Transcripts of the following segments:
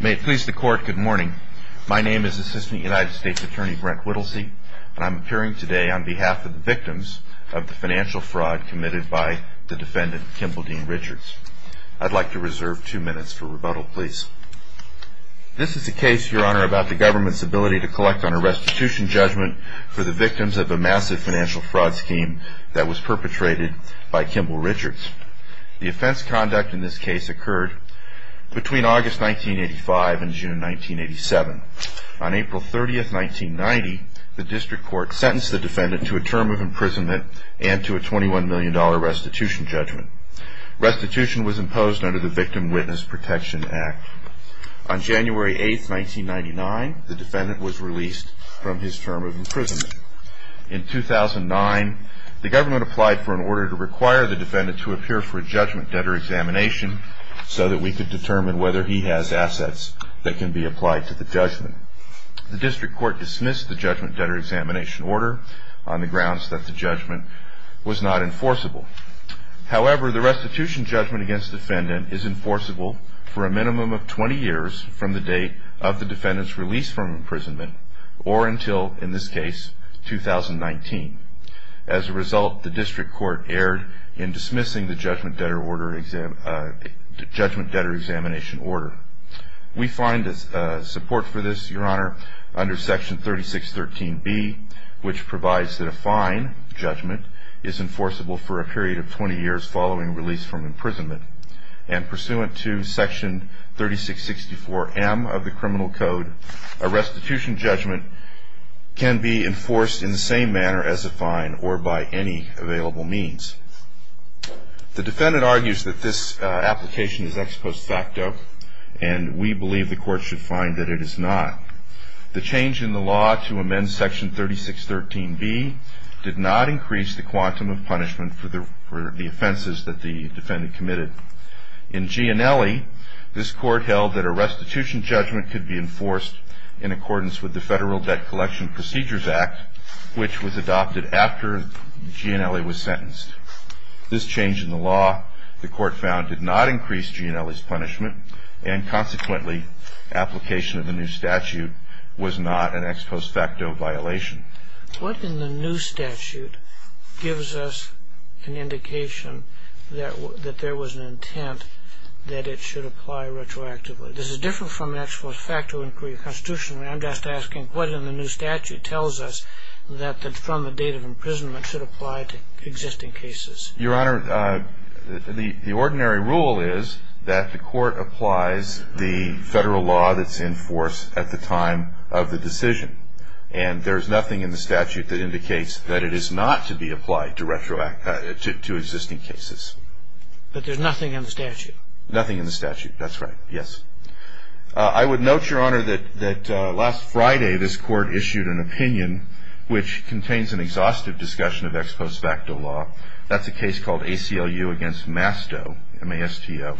May it please the court, good morning. My name is Assistant United States Attorney Brent Whittlesey, and I'm appearing today on behalf of the victims of the financial fraud committed by the defendant, Kimball Dean Richards. I'd like to reserve two minutes for rebuttal, please. This is a case, your honor, about the government's ability to collect on a restitution judgment for the victims of a massive financial fraud scheme that was perpetrated by Kimball Richards. The offense conduct in this case occurred between August 1985 and June 1987. On April 30, 1990, the district court sentenced the defendant to a term of imprisonment and to a $21 million restitution judgment. Restitution was imposed under the Victim Witness Protection Act. On January 8, 1999, the defendant was released from his term of imprisonment. In 2009, the government applied for an order to require the defendant to appear for a judgment debtor examination so that we could determine whether he has assets that can be applied to the judgment. The district court dismissed the judgment debtor examination order on the grounds that the judgment was not enforceable. However, the restitution judgment against the defendant is enforceable for a minimum of 20 years from the date of the defendant's release from imprisonment or until, in this case, 2019. As a result, the district court erred in dismissing the judgment debtor examination order. We find support for this, Your Honor, under Section 3613B, which provides that a fine judgment is enforceable for a period of 20 years following release from imprisonment. And pursuant to Section 3664M of the Criminal Code, a restitution judgment can be enforced in the same manner as a fine or by any available means. The defendant argues that this application is ex post facto, and we believe the court should find that it is not. The change in the law to amend Section 3613B did not increase the quantum of punishment for the offenses that the defendant committed. In Gianelli, this court held that a restitution judgment could be enforced in accordance with the Federal Debt Collection Procedures Act, which was adopted after Gianelli was sentenced. This change in the law, the court found, did not increase Gianelli's punishment, and consequently, application of the new statute was not an ex post facto violation. What in the new statute gives us an indication that there was an intent that it should apply retroactively? This is different from an ex post facto inquiry constitutionally. I'm just asking, what in the new statute tells us that from the date of imprisonment should apply to existing cases? Your Honor, the ordinary rule is that the court applies the Federal law that's enforced at the time of the decision. And there's nothing in the statute that indicates that it is not to be applied to existing cases. But there's nothing in the statute? Nothing in the statute, that's right, yes. I would note, Your Honor, that last Friday this court issued an opinion which contains an exhaustive discussion of ex post facto law. That's a case called ACLU against Masto, M-A-S-T-O.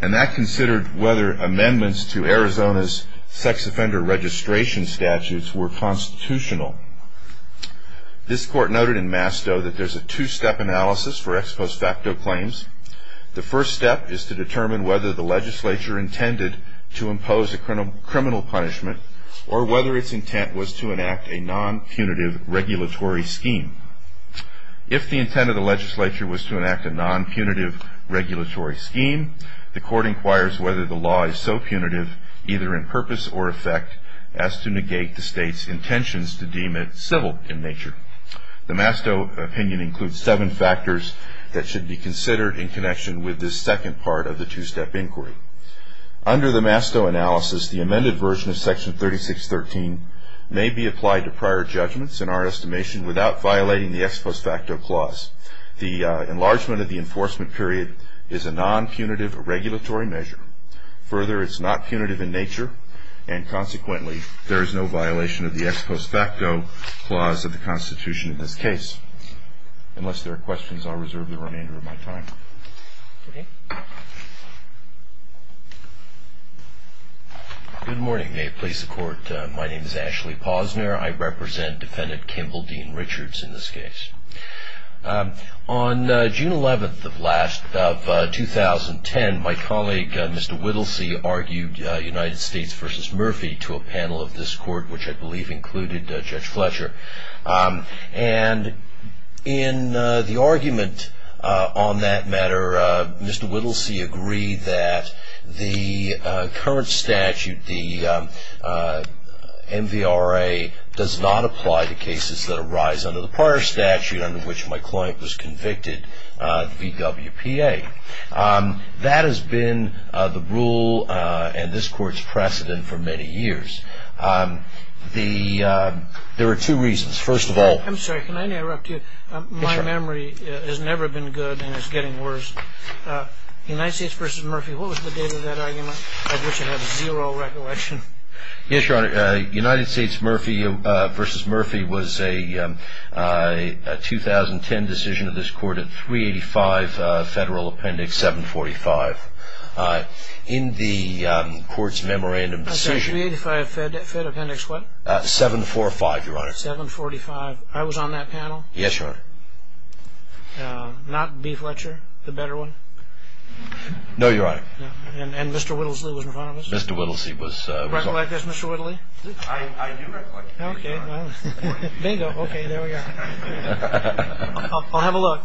And that considered whether amendments to Arizona's sex offender registration statutes were constitutional. This court noted in Masto that there's a two-step analysis for ex post facto claims. The first step is to determine whether the legislature intended to impose a criminal punishment or whether its intent was to enact a non-punitive regulatory scheme. If the intent of the legislature was to enact a non-punitive regulatory scheme, the court inquires whether the law is so punitive, either in purpose or effect, as to negate the state's intentions to deem it civil in nature. The Masto opinion includes seven factors that should be considered in connection with this second part of the two-step inquiry. Under the Masto analysis, the amended version of Section 3613 may be applied to prior judgments in our estimation without violating the ex post facto clause. The enlargement of the enforcement period is a non-punitive regulatory measure. Further, it's not punitive in nature, and consequently, there is no violation of the ex post facto clause of the Constitution in this case. Unless there are questions, I'll reserve the remainder of my time. Good morning. May it please the Court, my name is Ashley Posner. I represent Defendant Kimball Dean Richards in this case. On June 11th of 2010, my colleague, Mr. Whittlesey, argued United States v. Murphy to a panel of this Court, which I believe included Judge Fletcher. In the argument on that matter, Mr. Whittlesey agreed that the current statute, the MVRA, does not apply to cases that arise under the prior statute under which my client was convicted, the VWPA. That has been the rule and this Court's precedent for many years. There are two reasons. First of all... I'm sorry, can I interrupt you? My memory has never been good, and it's getting worse. United States v. Murphy, what was the date of that argument, of which I have zero recollection? Yes, Your Honor. United States v. Murphy was a 2010 decision of this Court at 385 Federal Appendix 745. In the Court's memorandum decision... I said 385 Federal Appendix what? 745, Your Honor. 745. I was on that panel? Yes, Your Honor. Not B. Fletcher, the better one? No, Your Honor. And Mr. Whittlesey was in front of us? Yes, Mr. Whittlesey was... Do you recollect this, Mr. Whittlesey? I do recollect it. Okay, well, bingo. Okay, there we are. I'll have a look.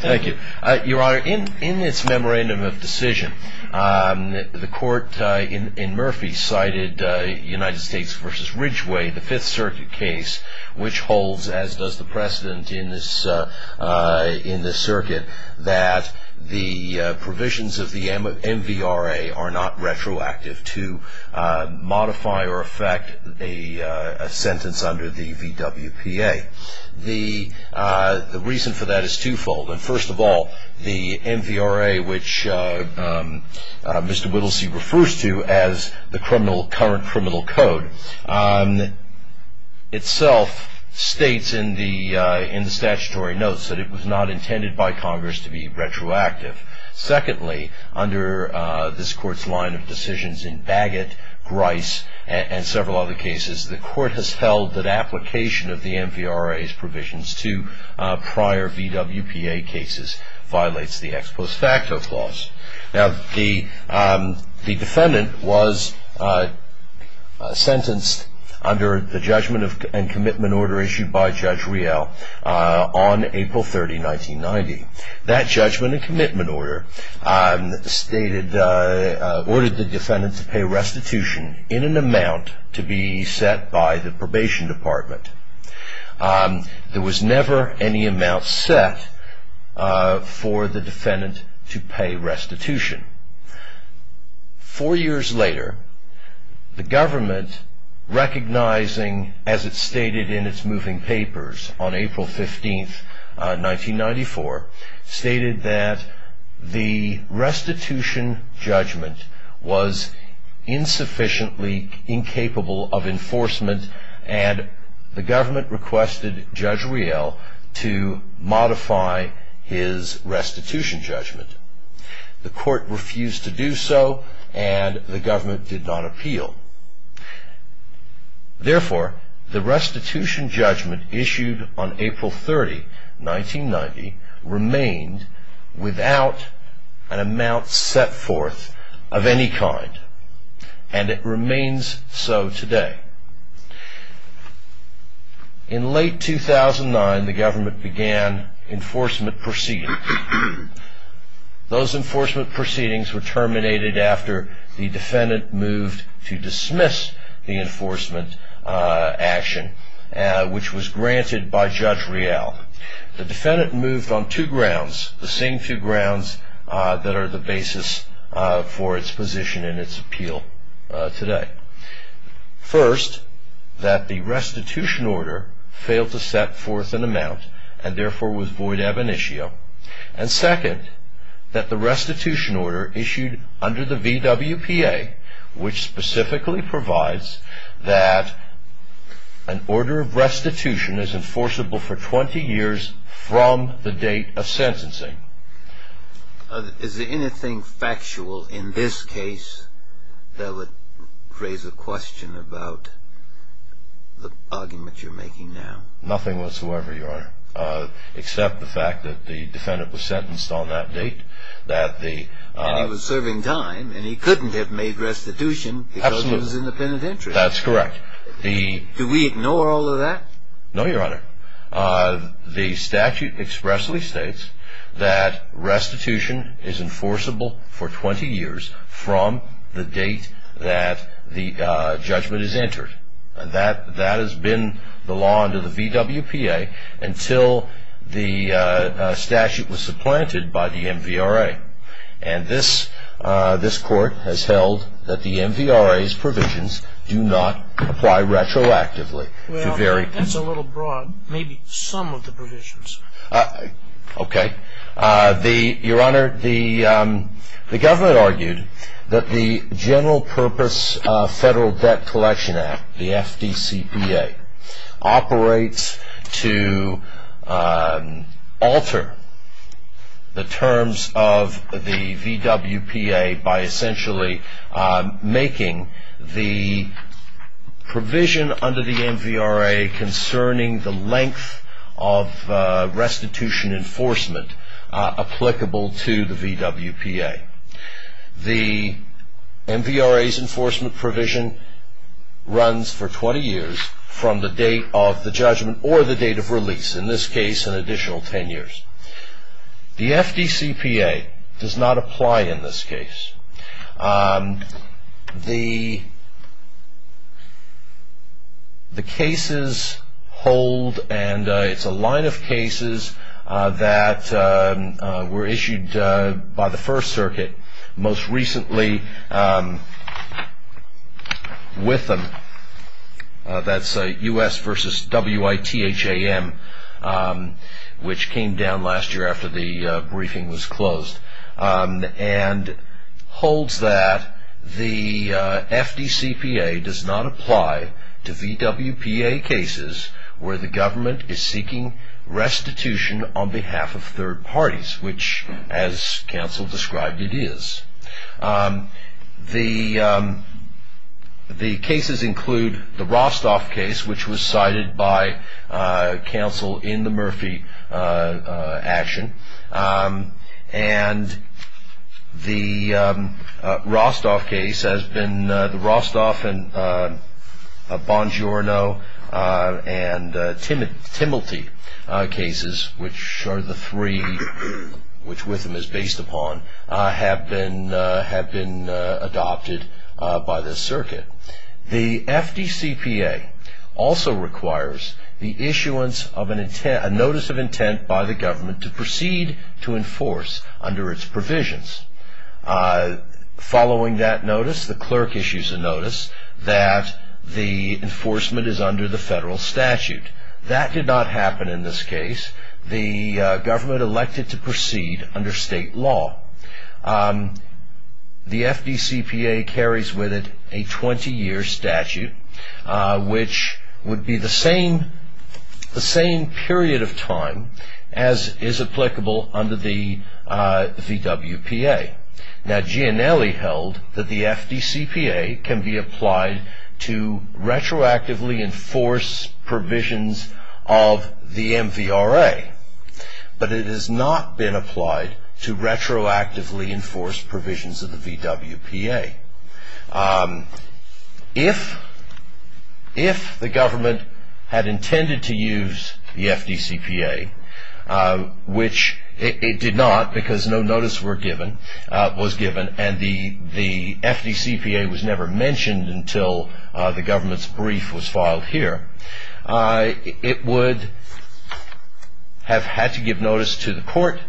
Thank you. Your Honor, in its memorandum of decision, the Court in Murphy cited United States v. Ridgeway, the Fifth Circuit case, which holds, as does the precedent in this circuit, that the provisions of the MVRA are not retroactive to modify or affect a sentence under the VWPA. The reason for that is twofold. First of all, the MVRA, which Mr. Whittlesey refers to as the current criminal code, itself states in the statutory notes that it was not intended by Congress to be retroactive. Secondly, under this Court's line of decisions in Bagot, Grice, and several other cases, the Court has held that application of the MVRA's provisions to prior VWPA cases violates the ex post facto clause. Now, the defendant was sentenced under the judgment and commitment order issued by Judge Riel on April 30, 1990. That judgment and commitment order ordered the defendant to pay restitution in an amount to be set by the probation department. There was never any amount set for the defendant to pay restitution. Four years later, the government, recognizing, as it stated in its moving papers on April 15, 1994, stated that the restitution judgment was insufficiently incapable of enforcement, and the government requested Judge Riel to modify his restitution judgment. The Court refused to do so, and the government did not appeal. Therefore, the restitution judgment issued on April 30, 1990, remained without an amount set forth of any kind, and it remains so today. In late 2009, the government began enforcement proceedings. Those enforcement proceedings were terminated after the defendant moved to dismiss the enforcement action, which was granted by Judge Riel. The defendant moved on two grounds, the same two grounds that are the basis for its position and its appeal today. First, that the restitution order failed to set forth an amount, and therefore was void ab initio. And second, that the restitution order issued under the VWPA, which specifically provides that an order of restitution is enforceable for 20 years from the date of sentencing. Is there anything factual in this case that would raise a question about the argument you're making now? Nothing whatsoever, Your Honor, except the fact that the defendant was sentenced on that date. And he was serving time, and he couldn't have made restitution because it was in the penitentiary. That's correct. Do we ignore all of that? No, Your Honor. The statute expressly states that restitution is enforceable for 20 years from the date that the judgment is entered. That has been the law under the VWPA until the statute was supplanted by the MVRA. And this court has held that the MVRA's provisions do not apply retroactively. Well, that's a little broad. Maybe some of the provisions. Okay. Your Honor, the government argued that the General Purpose Federal Debt Collection Act, the FDCPA, operates to alter the terms of the VWPA by essentially making the provision under the MVRA concerning the length of restitution enforcement applicable to the VWPA. The MVRA's enforcement provision runs for 20 years from the date of the judgment or the date of release, in this case an additional 10 years. The FDCPA does not apply in this case. The cases hold, and it's a line of cases that were issued by the First Circuit most recently with them. That's U.S. v. W.I.T.H.A.M., which came down last year after the briefing was closed. And holds that the FDCPA does not apply to VWPA cases where the government is seeking restitution on behalf of third parties, which, as counsel described, it is. The cases include the Rostov case, which was cited by counsel in the Murphy action. And the Rostov case has been, the Rostov and Bongiorno and Timilti cases, which are the three which WITHAM is based upon, have been adopted by the circuit. The FDCPA also requires the issuance of a notice of intent by the government to proceed to enforce under its provisions. Following that notice, the clerk issues a notice that the enforcement is under the federal statute. That did not happen in this case. The government elected to proceed under state law. The FDCPA carries with it a 20-year statute, which would be the same period of time as is applicable under the VWPA. Now, Giannelli held that the FDCPA can be applied to retroactively enforce provisions of the MVRA. But it has not been applied to retroactively enforce provisions of the VWPA. If the government had intended to use the FDCPA, which it did not because no notice was given, and the FDCPA was never mentioned until the government's brief was filed here, it would have had to give notice to the court,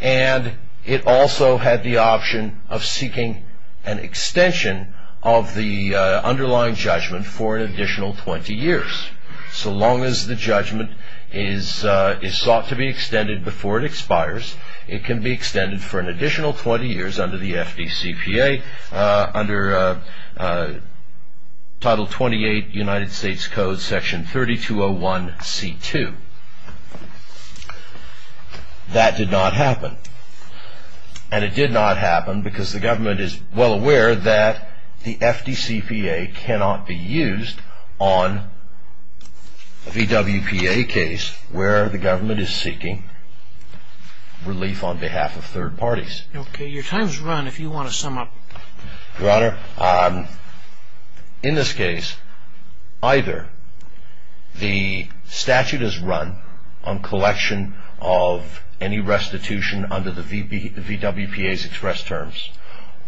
and it also had the option of seeking an extension of the underlying judgment for an additional 20 years. So long as the judgment is sought to be extended before it expires, it can be extended for an additional 20 years under the FDCPA under Title 28, United States Code, Section 3201C2. That did not happen. And it did not happen because the government is well aware that the FDCPA cannot be used on a VWPA case where the government is seeking relief on behalf of third parties. Okay. Your time has run. If you want to sum up. Your Honor, in this case, either the statute is run on collection of any restitution under the VWPA's express terms,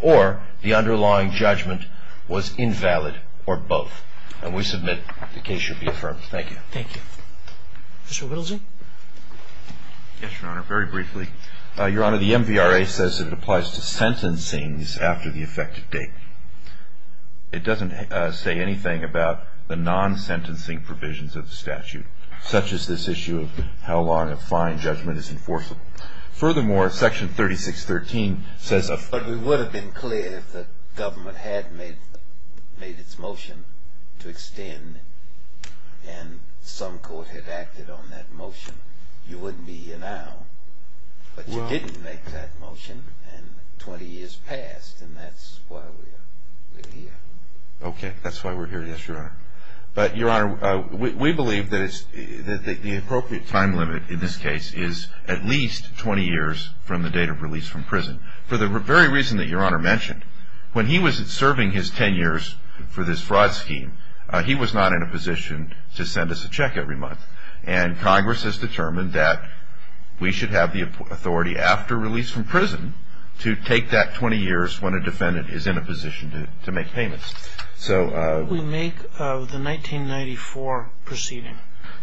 or the underlying judgment was invalid, or both. And we submit the case should be affirmed. Thank you. Thank you. Mr. Whittlesey. Yes, Your Honor. Very briefly. Your Honor, the MVRA says it applies to sentencings after the effective date. It doesn't say anything about the non-sentencing provisions of the statute, such as this issue of how long a fine judgment is enforceable. Furthermore, Section 3613 says... But it would have been clear if the government had made its motion to extend, and some court had acted on that motion, you wouldn't be here now. But you didn't make that motion, and 20 years passed, and that's why we're here. Okay. That's why we're here, yes, Your Honor. But, Your Honor, we believe that the appropriate time limit in this case is at least 20 years from the date of release from prison. For the very reason that Your Honor mentioned, when he was serving his 10 years for this fraud scheme, he was not in a position to send us a check every month. And Congress has determined that we should have the authority after release from prison to take that 20 years when a defendant is in a position to make payments. So... What would we make of the 1994 proceeding?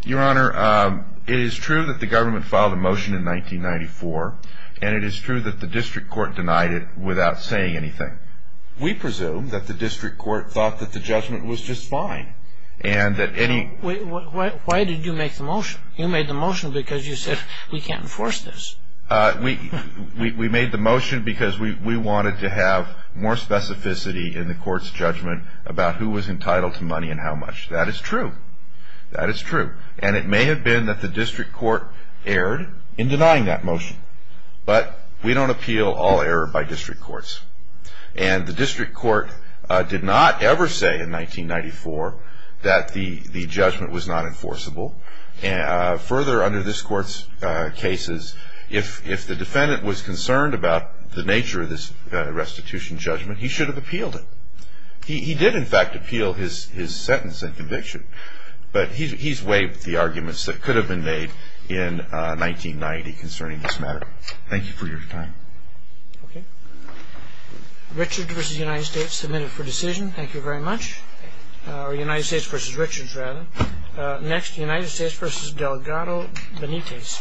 Your Honor, it is true that the government filed a motion in 1994, and it is true that the district court denied it without saying anything. We presume that the district court thought that the judgment was just fine, and that any... Why did you make the motion? You made the motion because you said, we can't enforce this. We made the motion because we wanted to have more specificity in the court's judgment about who was entitled to money and how much. That is true. That is true. And it may have been that the district court erred in denying that motion. But we don't appeal all error by district courts. And the district court did not ever say in 1994 that the judgment was not enforceable. Further, under this court's cases, if the defendant was concerned about the nature of this restitution judgment, he should have appealed it. He did, in fact, appeal his sentence and conviction. But he's waived the arguments that could have been made in 1990 concerning this matter. Thank you for your time. Okay. Richard v. United States, the minute for decision. Thank you very much. Or United States v. Richards, rather. Next, United States v. Delgado Benitez.